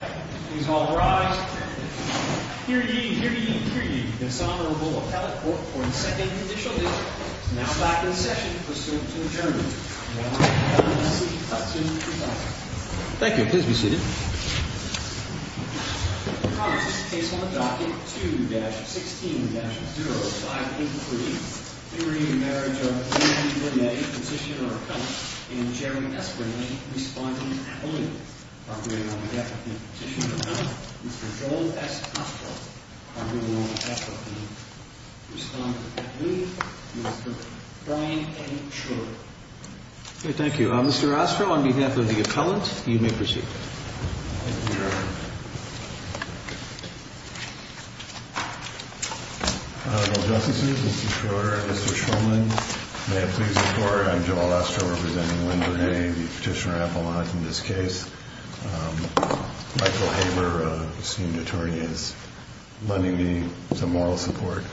Here ye, here ye, here ye, this Honorable Appellate Court for the Second Judicial District is now back in session pursuant to adjournment. Thank you, please be seated. The promise is placed on the docket 2-16-0583. In re Marriage of Bernay, Petitioner Appellant in Jerry S. Bernay, responding to Appellate. Appropriating on behalf of the Petitioner Appellant, Mr. Joel S. Castro. Appropriating on behalf of the Respondent of Appellate, Mr. Brian A. Schroeder. Thank you. Mr. Castro, on behalf of the Appellant, you may proceed. Thank you, Your Honor. Honorable Justices, Mr. Schroeder, Mr. Shulman, may it please the Court, I'm Joel S. Castro representing Linda Bernay, the Petitioner Appellant in this case. Michael Haber, esteemed attorney, is lending me some moral support.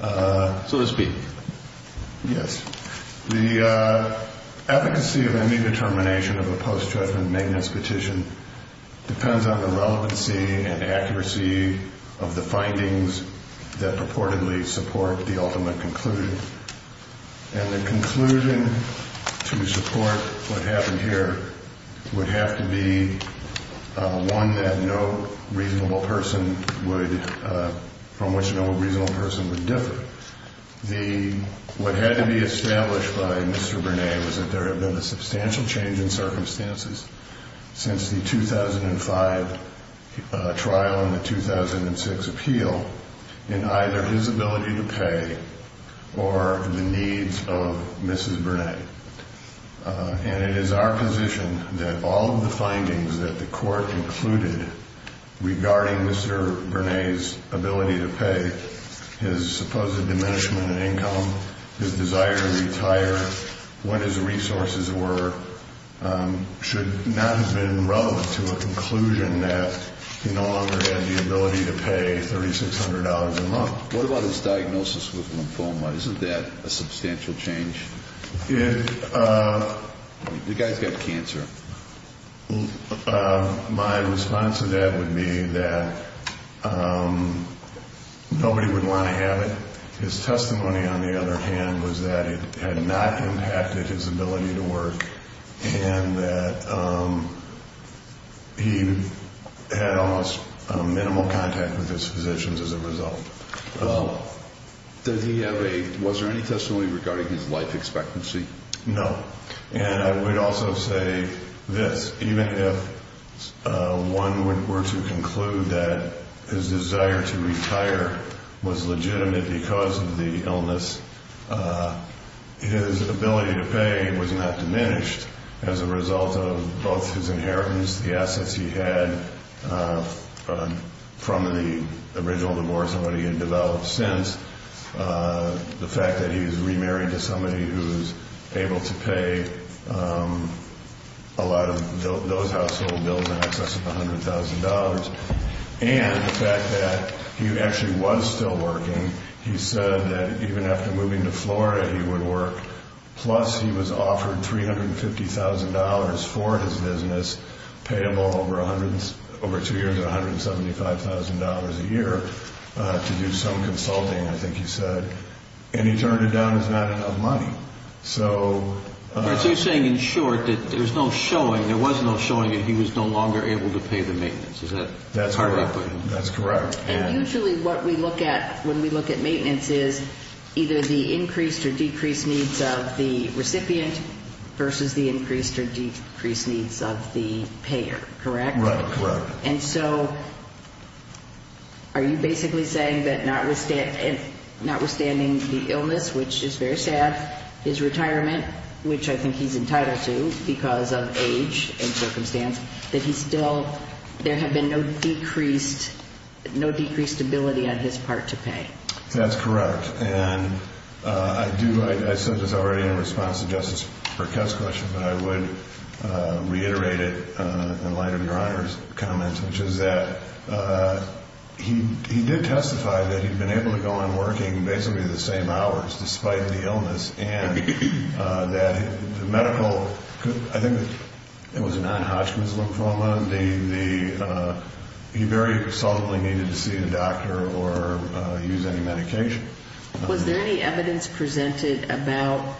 So to speak. Yes. The efficacy of any determination of a post-judgment maintenance petition depends on the relevancy and accuracy of the findings that purportedly support the ultimate conclusion. And the conclusion to support what happened here would have to be one that no reasonable person would, from which no reasonable person would differ. What had to be established by Mr. Bernay was that there had been a substantial change in circumstances since the 2005 trial and the 2006 appeal in either his ability to pay or the needs of Mrs. Bernay. And it is our position that all of the findings that the Court included regarding Mr. Bernay's ability to pay, his supposed diminishment in income, his desire to retire, what his resources were, should not have been relevant to a conclusion that he no longer had the ability to pay $3,600 a month. What about his diagnosis with lymphoma? Isn't that a substantial change? The guy's got cancer. My response to that would be that nobody would want to have it. His testimony, on the other hand, was that it had not impacted his ability to work and that he had almost minimal contact with his physicians as a result. Was there any testimony regarding his life expectancy? No. And I would also say this. Even if one were to conclude that his desire to retire was legitimate because of the illness, his ability to pay was not diminished as a result of both his inheritance, the assets he had from the original divorce and what he had developed since, the fact that he's remarried to somebody who's able to pay a lot of those household bills in excess of $100,000, and the fact that he actually was still working. He said that even after moving to Florida, he would work. Plus, he was offered $350,000 for his business, payable over two years at $175,000 a year to do some consulting, I think he said. And he turned it down as not enough money. So you're saying, in short, that there was no showing that he was no longer able to pay the maintenance. Is that correct? That's correct. And usually what we look at when we look at maintenance is either the increased or decreased needs of the recipient versus the increased or decreased needs of the payer. Correct. And so, are you basically saying that notwithstanding the illness, which is very sad, his retirement, which I think he's entitled to because of age and circumstance, that he still, there had been no decreased ability on his part to pay? That's correct. And I do, I said this already in response to Justice Burkett's question, but I would reiterate it in light of Your Honor's comments, which is that he did testify that he'd been able to go on working basically the same hours, despite the illness. And that the medical, I think it was a non-Hodgkin's lymphoma, the, he very resolutely needed to see a doctor or use any medication. Was there any evidence presented about,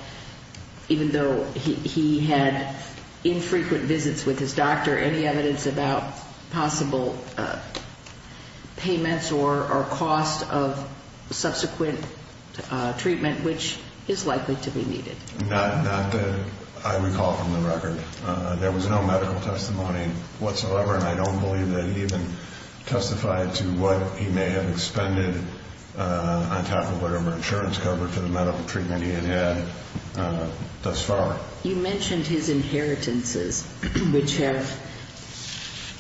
even though he had infrequent visits with his doctor, any evidence about possible payments or cost of subsequent treatment, which is likely to be needed? Not that I recall from the record. There was no medical testimony whatsoever, and I don't believe that he even testified to what he may have expended on top of whatever insurance cover for the medical treatment he had had thus far. You mentioned his inheritances, which have,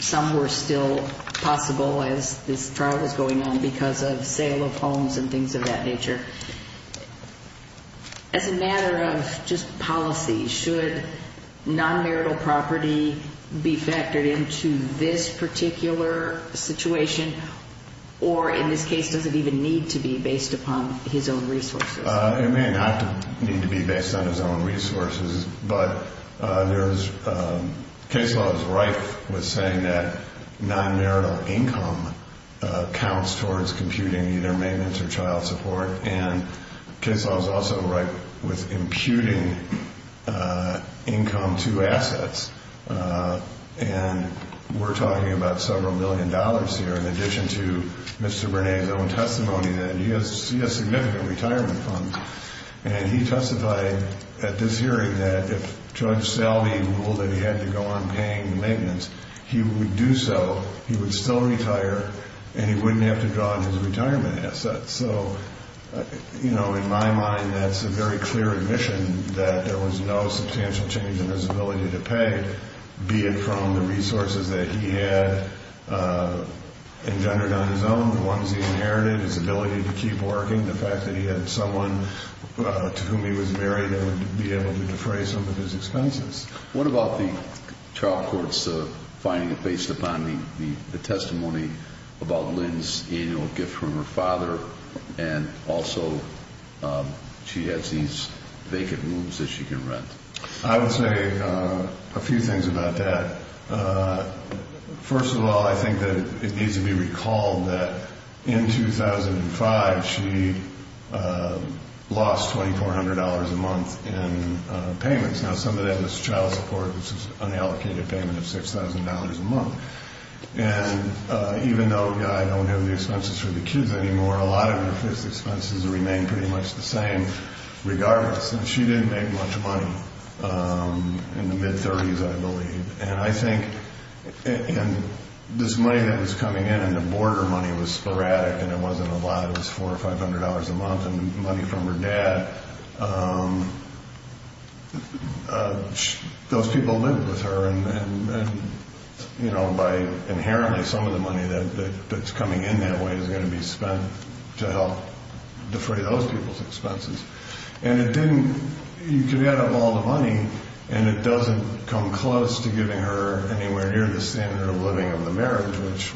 some were still possible as this trial was going on because of sale of homes and things of that nature. As a matter of just policy, should non-marital property be factored into this particular situation, or in this case, does it even need to be based upon his own resources? It may not need to be based on his own resources. But there's, case law is rife with saying that non-marital income counts towards computing either maintenance or child support. And case law is also rife with imputing income to assets. And we're talking about several million dollars here, in addition to Mr. Bernays own testimony that he has significant retirement funds. And he testified at this hearing that if Judge Salve ruled that he had to go on paying the maintenance, he would do so, he would still retire, and he wouldn't have to draw on his retirement assets. So, you know, in my mind, that's a very clear admission that there was no substantial change in his ability to pay, be it from the resources that he had engendered on his own, the ones he inherited, his ability to keep working, the fact that he had someone to whom he was married that would be able to defray some of his expenses. What about the child court's finding, based upon the testimony about Lynn's annual gift from her father, and also she has these vacant rooms that she can rent? I would say a few things about that. First of all, I think that it needs to be recalled that in 2005, she lost $2,400 a month in payments. Now, some of that was child support, which was an allocated payment of $6,000 a month. And even though Guy don't have the expenses for the kids anymore, a lot of his expenses remain pretty much the same, regardless. And she didn't make much money in the mid-'30s, I believe. And I think this money that was coming in, and the border money was sporadic, and it wasn't a lot. It was $400 or $500 a month, and the money from her dad, those people lived with her. And, you know, inherently, some of the money that's coming in that way is going to be spent to help defray those people's expenses. And it didn't – you could add up all the money, and it doesn't come close to giving her anywhere near the standard of living of the marriage, which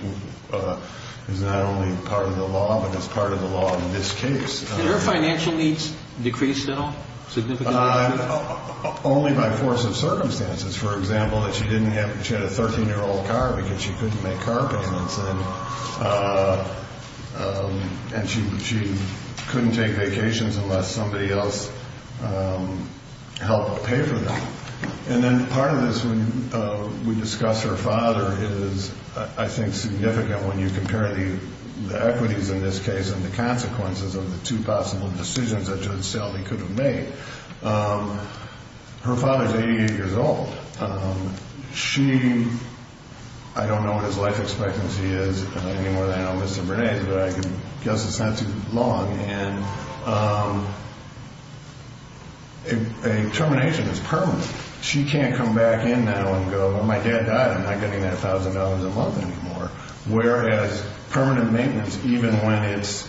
is not only part of the law, but is part of the law in this case. Did her financial needs decrease at all, significantly? Only by force of circumstances. For example, that she didn't have – she had a 13-year-old car because she couldn't make car payments. And she couldn't take vacations unless somebody else helped pay for them. And then part of this, when we discuss her father, is, I think, significant when you compare the equities in this case and the consequences of the two possible decisions that Judge Selvey could have made. Her father is 88 years old. She – I don't know what his life expectancy is anymore than I know Mr. Burnett's, but I can guess it's not too long. And a termination is permanent. She can't come back in now and go, well, my dad died. I'm not getting that $1,000 a month anymore. Whereas permanent maintenance, even when it's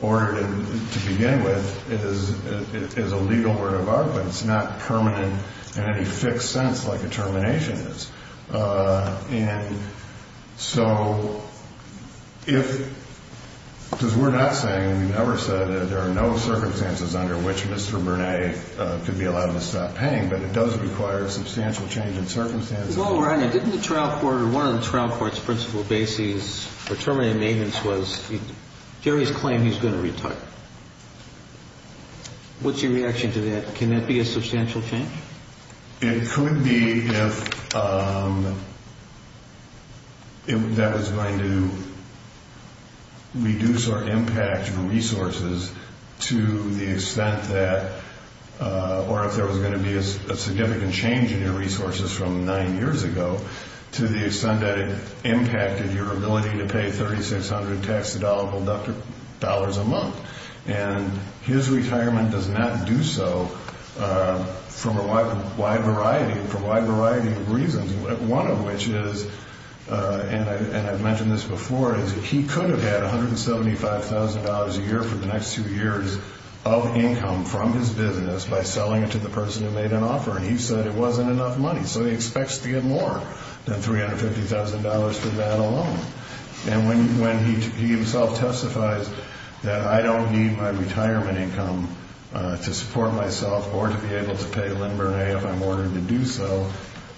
ordered to begin with, is a legal word of art, but it's not permanent in any fixed sense like a termination is. And so if – because we're not saying, we've never said that there are no circumstances under which Mr. Burnett could be allowed to stop paying, but it does require substantial change in circumstances. Well, Ryan, didn't the trial court or one of the trial court's principal bases for terminating maintenance was Jerry's claim he's going to retire? What's your reaction to that? Can that be a substantial change? It could be if that was going to reduce our impact on resources to the extent that – from nine years ago to the extent that it impacted your ability to pay $3,600 tax-deductible dollars a month. And his retirement does not do so for a wide variety of reasons, one of which is – and I've mentioned this before – is he could have had $175,000 a year for the next two years of income from his business by selling it to the person who made an offer. And he said it wasn't enough money, so he expects to get more than $350,000 for that alone. And when he himself testifies that I don't need my retirement income to support myself or to be able to pay Lynn Burnett if I'm ordered to do so,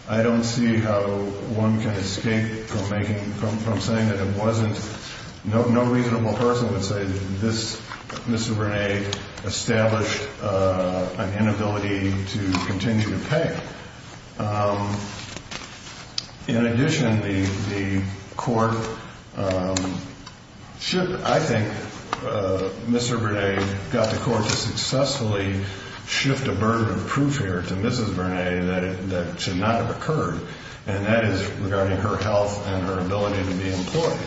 I don't see how one can escape from making – from saying that it wasn't – no reasonable person would say that this – Mr. Burnett established an inability to continue to pay. In addition, the court should – I think Mr. Burnett got the court to successfully shift a burden of proof here to Mrs. Burnett that should not have occurred, and that is regarding her health and her ability to be employed.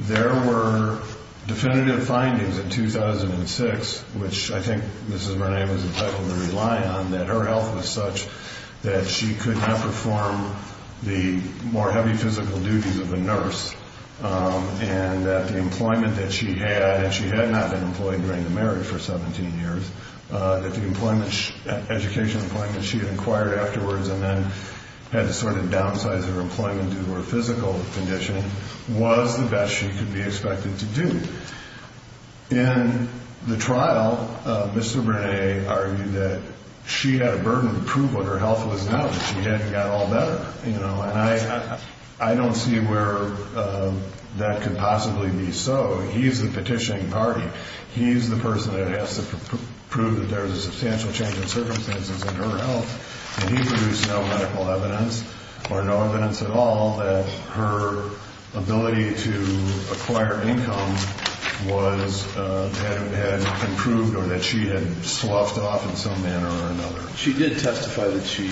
There were definitive findings in 2006, which I think Mrs. Burnett was entitled to rely on, that her health was such that she could not perform the more heavy physical duties of a nurse and that the employment that she had – and she had not been employed during the marriage for 17 years – that the employment – educational employment she had acquired afterwards and then had to sort of downsize her employment due to her physical condition was the best she could be expected to do. In the trial, Mr. Burnett argued that she had a burden of proof what her health was now that she hadn't got all better. And I don't see where that could possibly be so. He's the petitioning party. He's the person that has to prove that there's a substantial change in circumstances in her health. And he produced no medical evidence or no evidence at all that her ability to acquire income was – had improved or that she had sloughed off in some manner or another. She did testify that she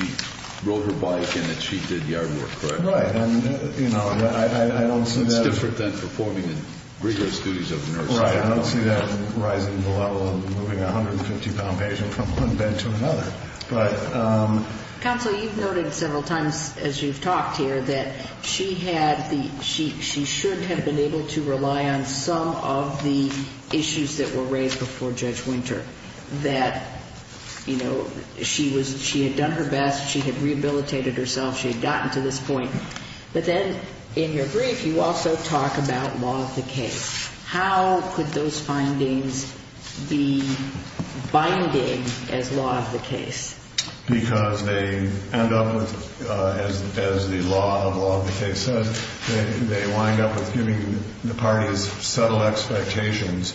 rode her bike and that she did yard work, correct? Right. And, you know, I don't see that – It's different than performing the rigorous duties of a nurse. Right. I don't see that rising to the level of moving a 150-pound patient from one bed to another. But – Counsel, you've noted several times as you've talked here that she had the – she should have been able to rely on some of the issues that were raised before Judge Winter. That, you know, she was – she had done her best. She had rehabilitated herself. She had gotten to this point. But then in your brief, you also talk about law of the case. How could those findings be binding as law of the case? Because they end up with, as the law of law of the case says, they wind up with giving the parties subtle expectations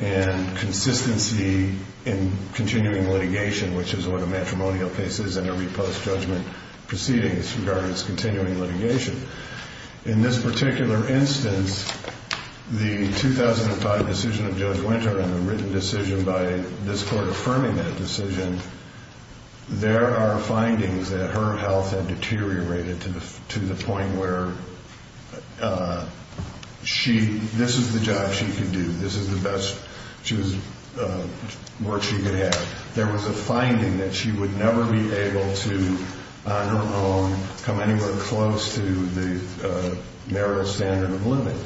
and consistency in continuing litigation, which is what a matrimonial case is in every post-judgment proceeding as regards continuing litigation. In this particular instance, the 2005 decision of Judge Winter and the written decision by this court affirming that decision, there are findings that her health had deteriorated to the point where she – this is the job she could do. This is the best she was – work she could have. There was a finding that she would never be able to, on her own, come anywhere close to the marital standard of living.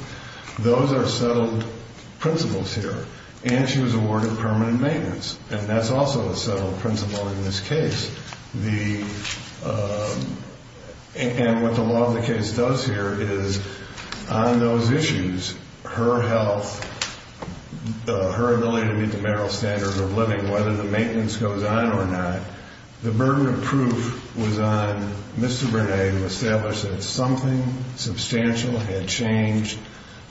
Those are subtle principles here. And she was awarded permanent maintenance. And that's also a subtle principle in this case. The – and what the law of the case does here is on those issues, her health, her ability to meet the marital standard of living, whether the maintenance goes on or not, the burden of proof was on Mr. Burnett to establish that something substantial had changed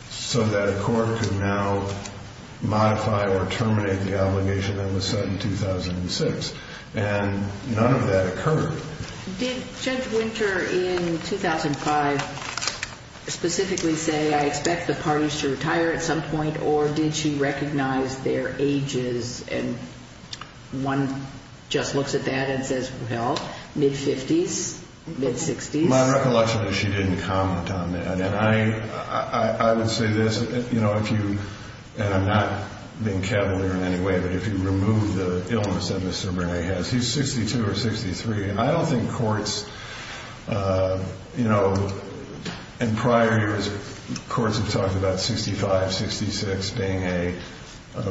so that a court could now modify or terminate the obligation that was set in 2006. And none of that occurred. Did Judge Winter in 2005 specifically say, I expect the parties to retire at some point, or did she recognize their ages? And one just looks at that and says, well, mid-50s, mid-60s? My recollection is she didn't comment on that. And I would say this, you know, if you – and I'm not being cavalier in any way, but if you remove the illness that Mr. Burnett has, he's 62 or 63. I don't think courts, you know, in prior years, courts have talked about 65, 66 being a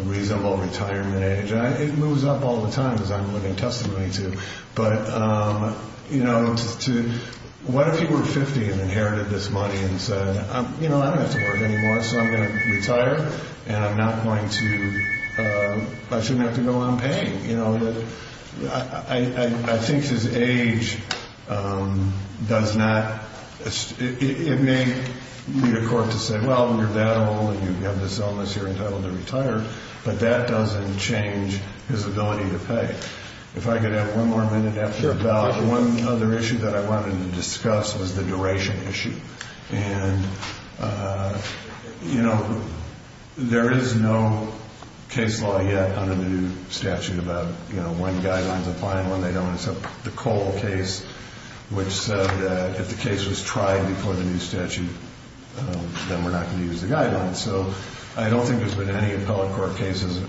reasonable retirement age. It moves up all the time, as I'm living testimony to. But, you know, to – what if he were 50 and inherited this money and said, you know, I don't have to work anymore, so I'm going to retire, and I'm not going to – I shouldn't have to go unpaid? You know, I think his age does not – it may lead a court to say, well, you're that old and you have this illness, you're entitled to retire, but that doesn't change his ability to pay. If I could have one more minute after a ballot, one other issue that I wanted to discuss was the duration issue. And, you know, there is no case law yet under the new statute about, you know, when guidelines apply and when they don't. It's the Cole case, which said that if the case was tried before the new statute, then we're not going to use the guidelines. So I don't think there's been any appellate court cases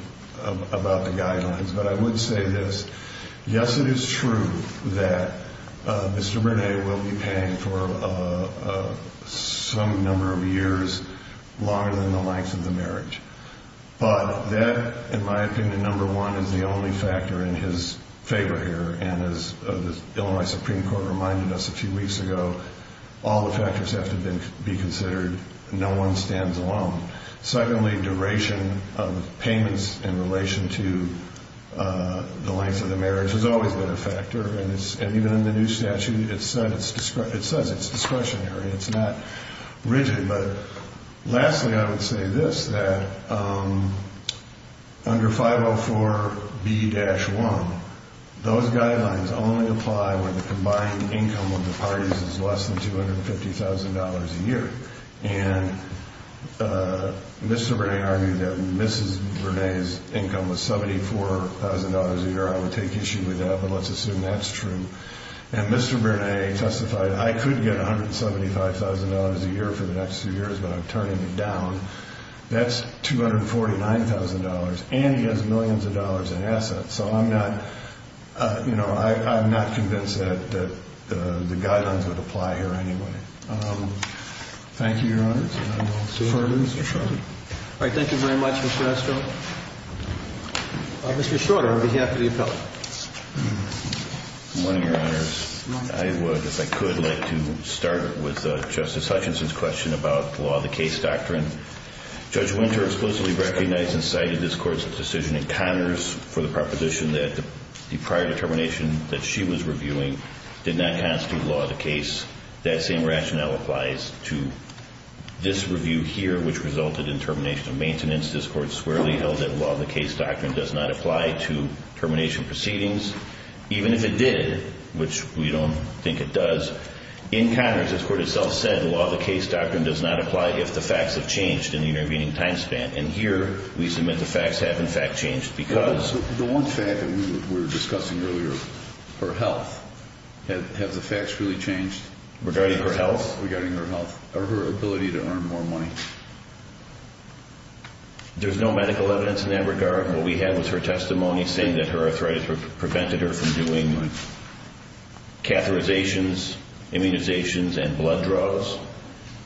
about the guidelines. But I would say this. Yes, it is true that Mr. René will be paying for some number of years longer than the length of the marriage. But that, in my opinion, number one, is the only factor in his favor here. And as the Illinois Supreme Court reminded us a few weeks ago, all the factors have to be considered. No one stands alone. Secondly, duration of payments in relation to the length of the marriage has always been a factor. And even in the new statute, it says it's discretionary. It's not rigid. But lastly, I would say this, that under 504B-1, those guidelines only apply when the combined income of the parties is less than $250,000 a year. And Mr. René argued that Mrs. René's income was $74,000 a year. I would take issue with that, but let's assume that's true. And Mr. René testified, I could get $175,000 a year for the next two years, but I'm turning it down. That's $249,000, and he has millions of dollars in assets. So I'm not convinced that the guidelines would apply here anyway. Thank you, Your Honors. And I will defer to Mr. Shorter. All right. Thank you very much, Mr. Estrell. Mr. Shorter, on behalf of the appellate. Good morning, Your Honors. Good morning. I would, if I could, like to start with Justice Hutchinson's question about the law of the case doctrine. Judge Winter explicitly recognized and cited this Court's decision in Congress for the proposition that the prior determination that she was reviewing did not constitute law of the case. That same rationale applies to this review here, which resulted in termination of maintenance. This Court squarely held that law of the case doctrine does not apply to termination proceedings, even if it did, which we don't think it does. In Congress, this Court itself said the law of the case doctrine does not apply if the facts have changed in the intervening time span. And here we submit the facts have, in fact, changed because. The one fact that we were discussing earlier, her health, have the facts really changed? Regarding her health? Regarding her health, or her ability to earn more money. There's no medical evidence in that regard. What we have is her testimony saying that her arthritis prevented her from doing catheterizations, immunizations, and blood draws.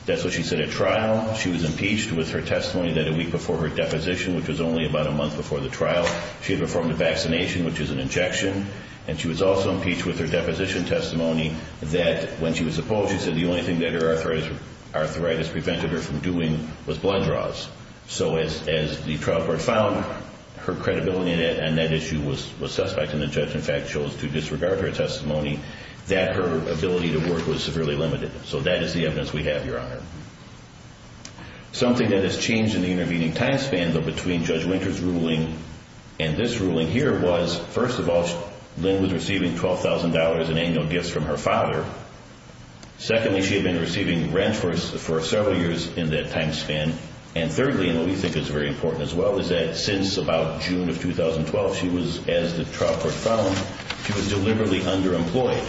That's what she said at trial. She was impeached with her testimony that a week before her deposition, which was only about a month before the trial, she had performed a vaccination, which is an injection. And she was also impeached with her deposition testimony that when she was appalled, she said the only thing that her arthritis prevented her from doing was blood draws. So as the trial board found her credibility on that issue was suspect, and the judge, in fact, chose to disregard her testimony, that her ability to work was severely limited. So that is the evidence we have, Your Honor. Something that has changed in the intervening time span, though, between Judge Winter's ruling and this ruling here was, first of all, Lynn was receiving $12,000 in annual gifts from her father. Secondly, she had been receiving rent for several years in that time span. And thirdly, and what we think is very important as well, is that since about June of 2012, she was, as the trial court found, she was deliberately underemployed.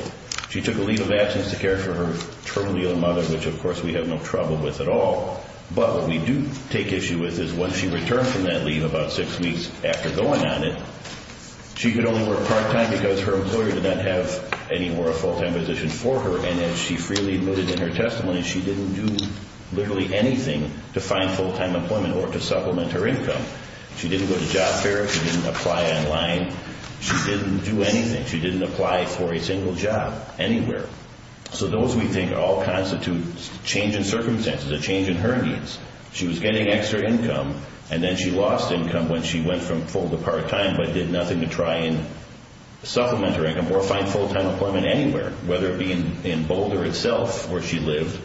She took a leave of absence to care for her terminally ill mother, which, of course, we have no trouble with at all. But what we do take issue with is when she returned from that leave about six weeks after going on it, she could only work part-time because her employer did not have any more full-time position for her. And as she freely admitted in her testimony, she didn't do literally anything to find full-time employment or to supplement her income. She didn't go to job fairs. She didn't apply online. She didn't do anything. She didn't apply for a single job anywhere. So those, we think, all constitute change in circumstances, a change in her needs. She was getting extra income, and then she lost income when she went from full to part-time but did nothing to try and supplement her income or find full-time employment anywhere, whether it be in Boulder itself, where she lived,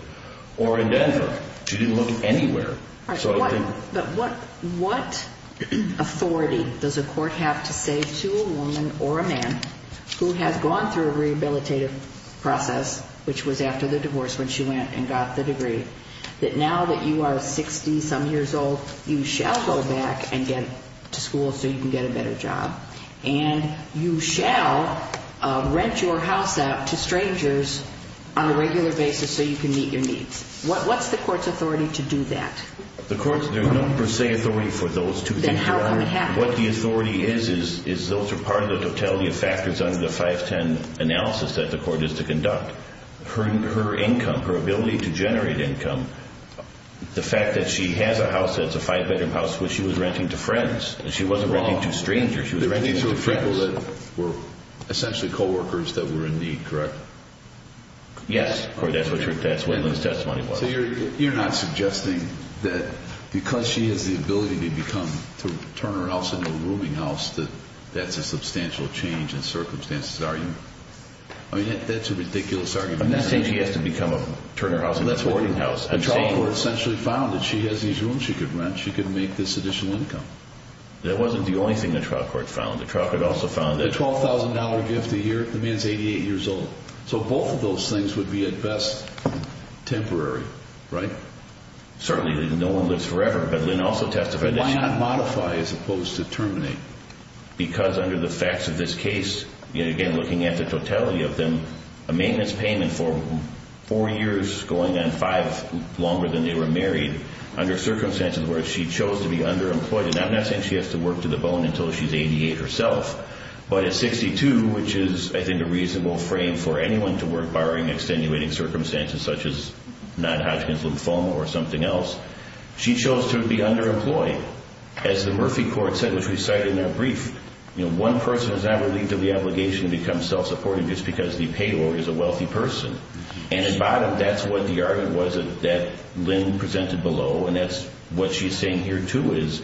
or in Denver. She didn't look anywhere. But what authority does a court have to say to a woman or a man who has gone through a rehabilitative process, which was after the divorce when she went and got the degree, that now that you are 60-some years old, you shall go back and get to school so you can get a better job, and you shall rent your house out to strangers on a regular basis so you can meet your needs? What's the court's authority to do that? There's no per se authority for those two things. Then how can it happen? What the authority is is those are part of the totality of factors under the 510 analysis that the court is to conduct. Her income, her ability to generate income, the fact that she has a house that's a five-bedroom house which she was renting to friends, and she wasn't renting to strangers. She was renting to friends. They were renting to people that were essentially co-workers that were in need, correct? Yes. That's what Lynn's testimony was. So you're not suggesting that because she has the ability to turn her house into a rooming house that that's a substantial change in circumstances, are you? I mean, that's a ridiculous argument. I'm not saying she has to turn her house into a boarding house. The trial court essentially found that she has these rooms she could rent. She could make this additional income. That wasn't the only thing the trial court found. The $12,000 gift a year, the man's 88 years old. So both of those things would be at best temporary, right? Certainly, no one lives forever. But Lynn also testified that she— Why not modify as opposed to terminate? Because under the facts of this case, again, looking at the totality of them, a maintenance payment for four years going on five longer than they were married under circumstances where she chose to be underemployed. I'm not saying she has to work to the bone until she's 88 herself. But at 62, which is, I think, a reasonable frame for anyone to work, barring extenuating circumstances such as non-Hodgkin's lymphoma or something else, she chose to be underemployed. As the Murphy court said, which we cite in their brief, one person is not relieved of the obligation to become self-supporting just because the payor is a wealthy person. And at bottom, that's what the argument was that Lynn presented below, and that's what she's saying here, too, is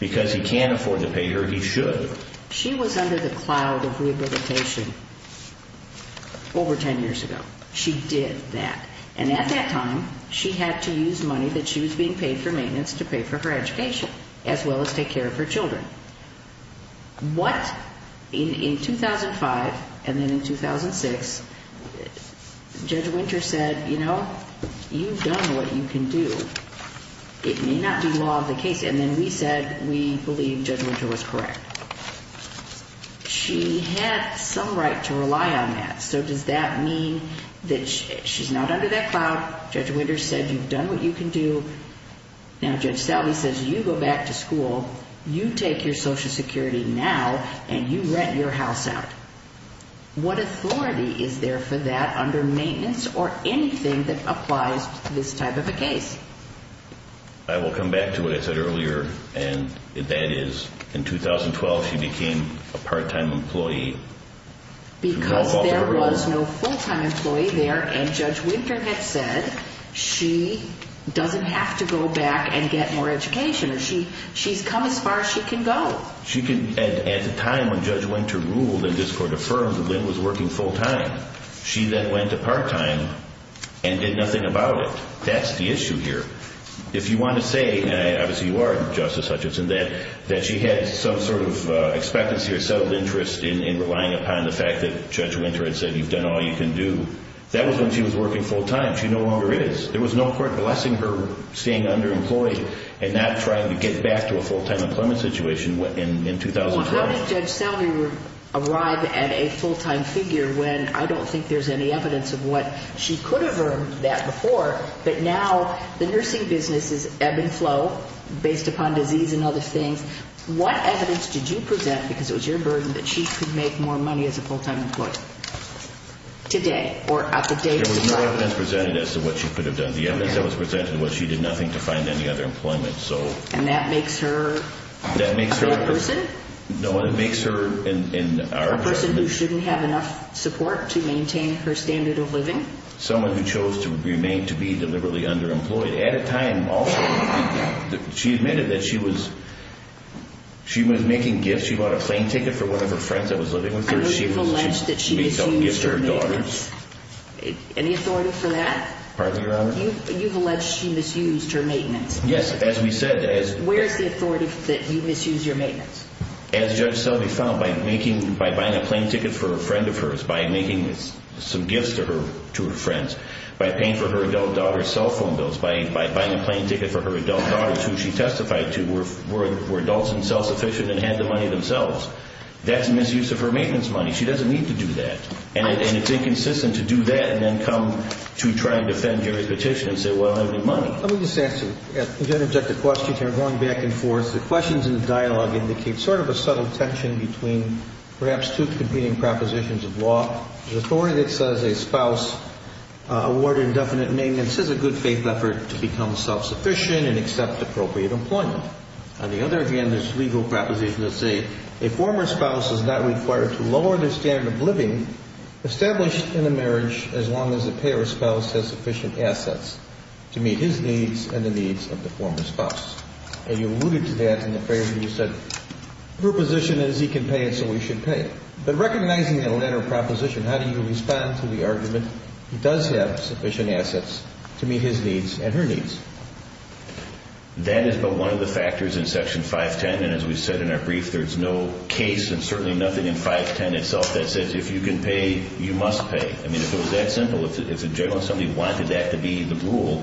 because he can't afford to pay her, he should. She was under the cloud of rehabilitation over 10 years ago. She did that. And at that time, she had to use money that she was being paid for maintenance to pay for her education as well as take care of her children. What? In 2005 and then in 2006, Judge Winter said, you know, you've done what you can do. It may not be law of the case. And then we said we believe Judge Winter was correct. She had some right to rely on that. So does that mean that she's not under that cloud? Judge Winter said you've done what you can do. Now, Judge Sallie says you go back to school, you take your Social Security now, and you rent your house out. What authority is there for that under maintenance or anything that applies to this type of a case? I will come back to what I said earlier, and that is in 2012, she became a part-time employee. Because there was no full-time employee there, and Judge Winter had said she doesn't have to go back and get more education. She's come as far as she can go. At the time when Judge Winter ruled and this court affirmed that Lynn was working full-time, she then went to part-time and did nothing about it. That's the issue here. If you want to say, and obviously you are, Justice Hutchinson, that she had some sort of expectancy or settled interest in relying upon the fact that Judge Winter had said you've done all you can do, that was when she was working full-time. She no longer is. There was no court blessing her staying underemployed and not trying to get back to a full-time employment situation in 2012. How did Judge Sallie arrive at a full-time figure when I don't think there's any evidence of what she could have earned that before, but now the nursing business is ebb and flow based upon disease and other things. What evidence did you present because it was your burden that she could make more money as a full-time employee today or at the date? There was no evidence presented as to what she could have done. The evidence that was presented was she did nothing to find any other employment. And that makes her a poor person? No, it makes her in our judgment. A person who shouldn't have enough support to maintain her standard of living? Someone who chose to remain to be deliberately underemployed. At a time also, she admitted that she was making gifts. She said that she bought a plane ticket for one of her friends that was living with her. And you've alleged that she misused her maintenance. Any authority for that? Pardon me, Your Honor? You've alleged she misused her maintenance. Yes, as we said. Where is the authority that you misused your maintenance? As Judge Sallie found, by buying a plane ticket for a friend of hers, by making some gifts to her friends, by paying for her adult daughter's cell phone bills, by buying a plane ticket for her adult daughters who she testified to were adults and self-sufficient and had the money themselves. That's misuse of her maintenance money. She doesn't need to do that. And it's inconsistent to do that and then come to try and defend Gary's petition and say, well, I don't have any money. Let me just ask you, if you don't object to the question, you're going back and forth. The questions in the dialogue indicate sort of a subtle tension between perhaps two competing propositions of law. The authority that says a spouse awarded indefinite maintenance is a good-faith effort to become self-sufficient and accept appropriate employment. On the other hand, there's a legal proposition that says a former spouse is not required to lower their standard of living established in a marriage as long as the payor's spouse has sufficient assets to meet his needs and the needs of the former spouse. And you alluded to that in the phrase when you said, her position is he can pay it so we should pay it. But recognizing that latter proposition, how do you respond to the argument that a spouse does have sufficient assets to meet his needs and her needs? That is but one of the factors in Section 510. And as we said in our brief, there's no case and certainly nothing in 510 itself that says if you can pay, you must pay. I mean, if it was that simple, if a gentleman, somebody wanted that to be the rule,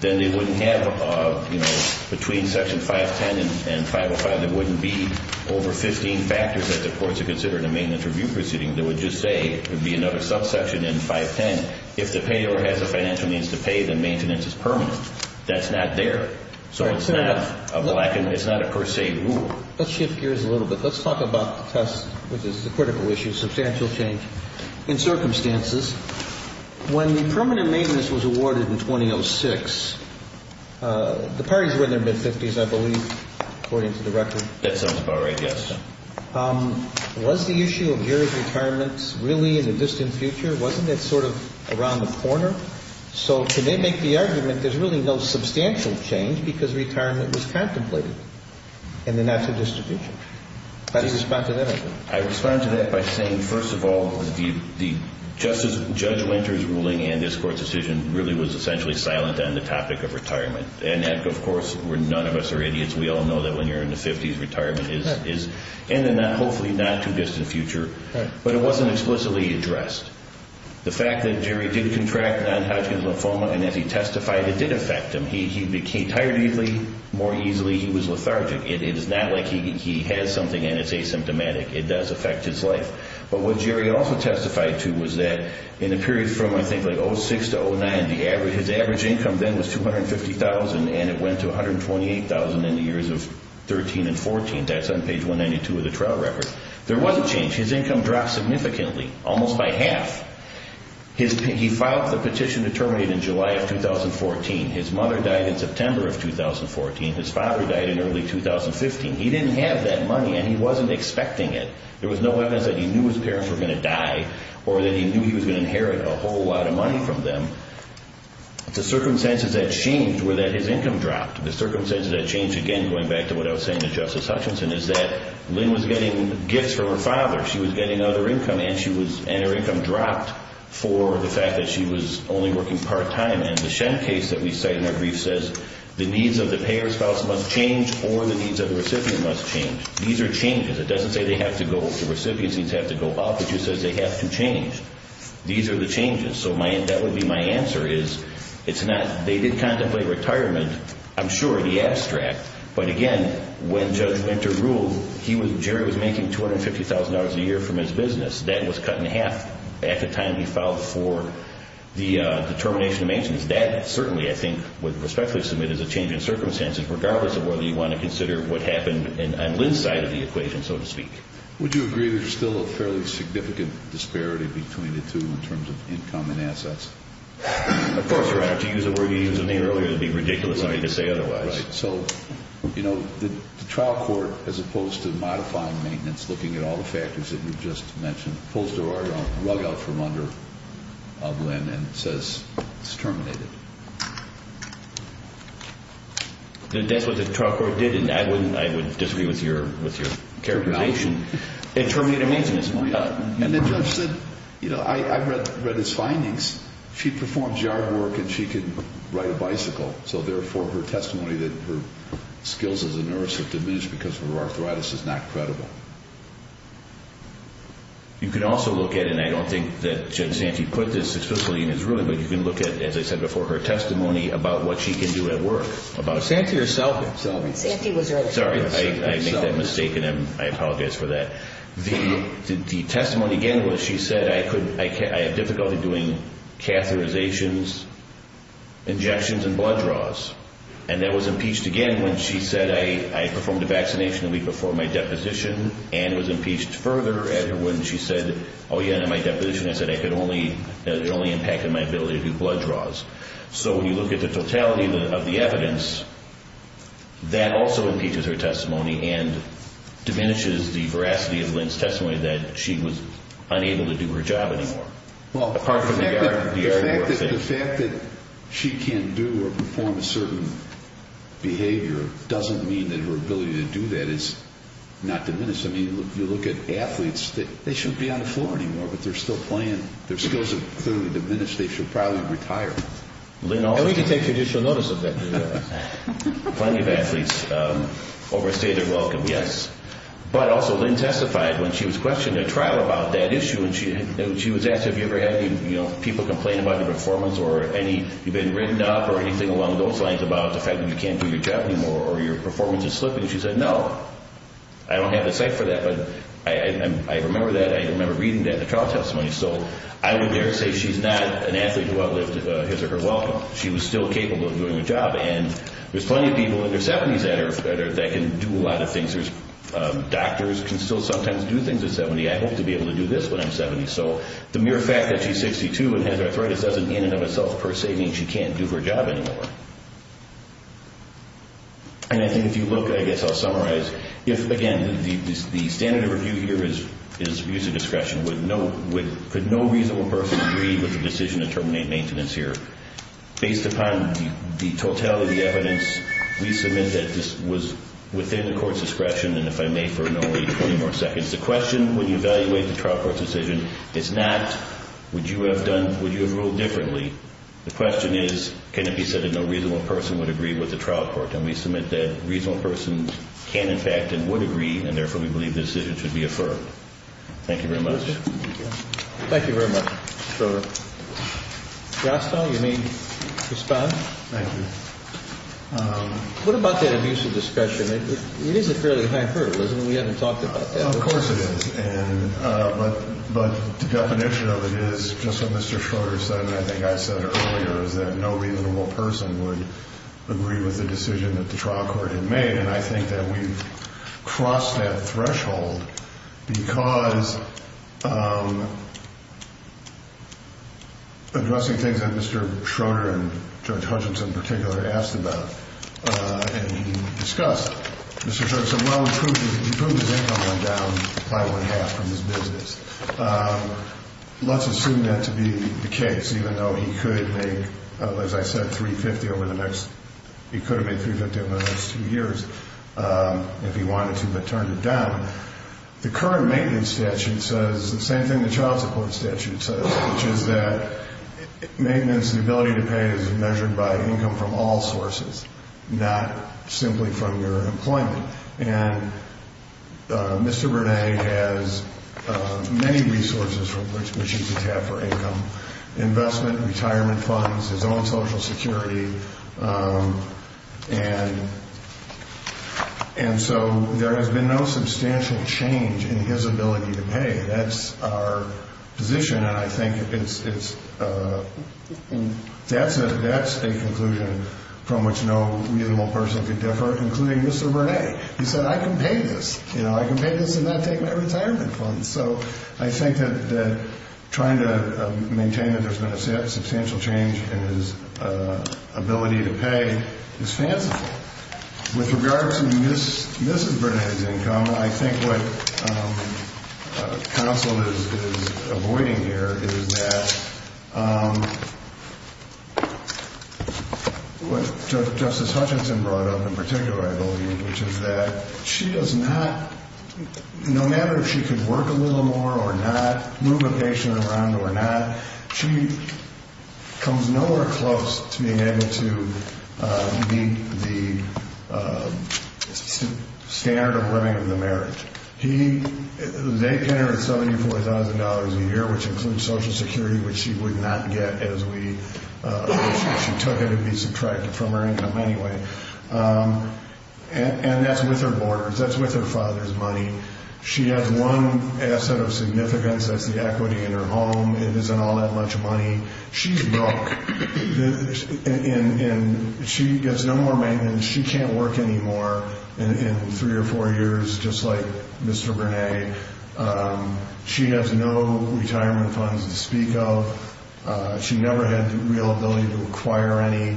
then they wouldn't have, you know, between Section 510 and 505, there wouldn't be over 15 factors that the courts would consider in a maintenance review proceeding. They would just say it would be another subsection in 510. If the payor has the financial needs to pay, then maintenance is permanent. That's not there. So it's not a per se rule. Let's shift gears a little bit. Let's talk about the test, which is the critical issue, substantial change. In circumstances, when the permanent maintenance was awarded in 2006, the parties were in their mid-50s, I believe, according to the record. That sounds about right, yes. Was the issue of year of retirement really in the distant future? Wasn't it sort of around the corner? So can they make the argument there's really no substantial change because retirement was contemplated in the national distribution? How do you respond to that? I respond to that by saying, first of all, the Judge Winter's ruling and this Court's decision really was essentially silent on the topic of retirement. And, of course, none of us are idiots. We all know that when you're in the 50s, retirement is in the hopefully not too distant future. But it wasn't explicitly addressed. The fact that Jerry did contract non-Hodgkin's lymphoma, and as he testified, it did affect him. He became tired easily, more easily. He was lethargic. It is not like he has something and it's asymptomatic. It does affect his life. But what Jerry also testified to was that in the period from, I think, like 2006 to 2009, his average income then was $250,000, and it went to $128,000 in the years of 2013 and 2014. That's on page 192 of the trial record. There wasn't change. His income dropped significantly, almost by half. He filed the petition to terminate in July of 2014. His mother died in September of 2014. His father died in early 2015. He didn't have that money, and he wasn't expecting it. There was no evidence that he knew his parents were going to die or that he knew he was going to inherit a whole lot of money from them. The circumstances that changed were that his income dropped. The circumstances that changed, again, going back to what I was saying to Justice Hutchinson, is that Lynn was getting gifts for her father. She was getting other income, and her income dropped for the fact that she was only working part-time. The Shen case that we cite in our brief says, the needs of the payer's spouse must change or the needs of the recipient must change. These are changes. It doesn't say they have to go up. The recipient's needs have to go up. It just says they have to change. These are the changes. So that would be my answer is it's not. They did contemplate retirement, I'm sure, the abstract. But again, when Judge Winter ruled, Jerry was making $250,000 a year from his business. That was cut in half at the time he filed for the determination of maintenance. That certainly, I think, would respectfully submit as a change in circumstances, regardless of whether you want to consider what happened on Lynn's side of the equation, so to speak. Would you agree there's still a fairly significant disparity between the two in terms of income and assets? Of course, right. If you use a word you used earlier, it would be ridiculous for me to say otherwise. Right. So, you know, the trial court, as opposed to modifying maintenance, looking at all the factors that you just mentioned, pulls the rug out from under Lynn and says it's terminated. That's what the trial court did. I would disagree with your characterization. It terminated maintenance. And then Judge said, you know, I read his findings. She performs yard work and she can ride a bicycle. So therefore, her testimony that her skills as a nurse have diminished because of her arthritis is not credible. You can also look at it, and I don't think that Judge Santi put this explicitly in his ruling, but you can look at, as I said before, her testimony about what she can do at work. About Santi or Salvi. Santi was earlier. Sorry, I made that mistake, and I apologize for that. The testimony, again, was she said I have difficulty doing catheterizations, injections, and blood draws. And that was impeached again when she said I performed a vaccination a week before my deposition and was impeached further when she said, oh, yeah, in my deposition, I said it only impacted my ability to do blood draws. So when you look at the totality of the evidence, that also impeaches her testimony and diminishes the veracity of Lynn's testimony that she was unable to do her job anymore, apart from the yard work. Well, the fact that she can't do or perform a certain behavior doesn't mean that her ability to do that is not diminished. I mean, if you look at athletes, they shouldn't be on the floor anymore, but they're still playing. Their skills have clearly diminished. They should probably retire. And we can take judicial notice of that. Plenty of athletes overstayed their welcome, yes. But also Lynn testified when she was questioned at trial about that issue and she was asked have you ever had people complain about your performance or you've been written up or anything along those lines about the fact that you can't do your job anymore or your performance is slipping. She said no. I don't have the cite for that, but I remember that. I remember reading that in the trial testimony. She was still capable of doing her job, and there's plenty of people in their 70s that can do a lot of things. Doctors can still sometimes do things at 70. I hope to be able to do this when I'm 70. So the mere fact that she's 62 and has arthritis doesn't in and of itself per se mean she can't do her job anymore. And I think if you look, I guess I'll summarize. Again, the standard of review here is user discretion. Could no reasonable person agree with the decision to terminate maintenance here? Based upon the totality of the evidence, we submit that this was within the court's discretion, and if I may for no more than 20 more seconds, the question when you evaluate the trial court's decision is not would you have ruled differently. The question is can it be said that no reasonable person would agree with the trial court, and we submit that a reasonable person can, in fact, and would agree, and therefore we believe the decision should be affirmed. Thank you very much. Thank you. Thank you very much, Mr. Schroeder. Rostow, you may respond. Thank you. What about that abusive discretion? It is a fairly high hurdle, isn't it? We haven't talked about that. Of course it is. But the definition of it is, just what Mr. Schroeder said, and I think I said it earlier, is that no reasonable person would agree with the decision that the trial court had made, and I think that we've crossed that threshold because addressing things that Mr. Schroeder and Judge Hutchinson in particular asked about and discussed, Mr. Schroeder said, well, he proved his income went down by one-half from his business. Let's assume that to be the case, even though he could make, as I said, $350 over the next, he could have made $350 over the next two years if he wanted to, but turned it down. The current maintenance statute says the same thing the child support statute says, which is that maintenance, the ability to pay, is measured by income from all sources, not simply from your employment. And Mr. Burnett has many resources which he could have for income, investment, retirement funds, his own Social Security, and so there has been no substantial change in his ability to pay. That's our position, and I think that's a conclusion from which no reasonable person could differ, including Mr. Burnett. He said, I can pay this. I can pay this and not take my retirement funds. And so I think that trying to maintain that there's been a substantial change in his ability to pay is fanciful. With regard to Mrs. Burnett's income, I think what counsel is avoiding here is that what Justice Hutchinson brought up in particular, I believe, which is that she does not, no matter if she could work a little more or not, move a patient around or not, she comes nowhere close to being able to meet the standard of living of the marriage. They pay her $74,000 a year, which includes Social Security, which she would not get if she took it and be subtracted from her income anyway. And that's with her borders. That's with her father's money. She has one asset of significance, that's the equity in her home. It isn't all that much money. She's broke, and she gets no more maintenance. She can't work anymore in three or four years, just like Mr. Burnett. She has no retirement funds to speak of. She never had the real ability to acquire any.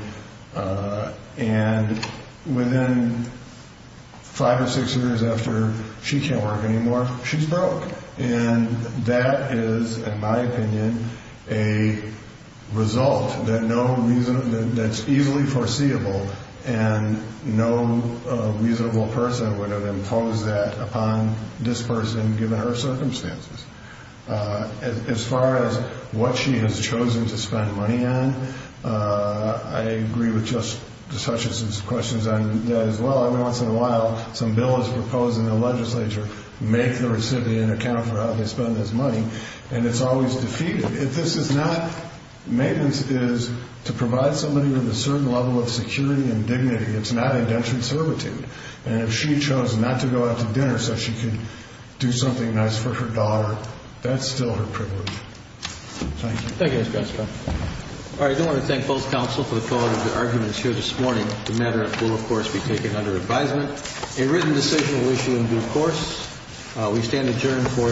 And within five or six years after she can't work anymore, she's broke. And that is, in my opinion, a result that's easily foreseeable, and no reasonable person would have imposed that upon this person given her circumstances. As far as what she has chosen to spend money on, I agree with Justice Hutchison's questions on that as well. Every once in a while, some bill is proposed in the legislature, make the recipient account for how they spend this money, and it's always defeated. If this is not maintenance, it is to provide somebody with a certain level of security and dignity. It's not indentured servitude. And if she chose not to go out to dinner so she could do something nice for her daughter, that's still her privilege. Thank you. Thank you, Mr. Constable. All right, I do want to thank both counsel for the quality of their arguments here this morning. The matter will, of course, be taken under advisement. A written decision will issue in due course. We stand adjourned for the day subject to call.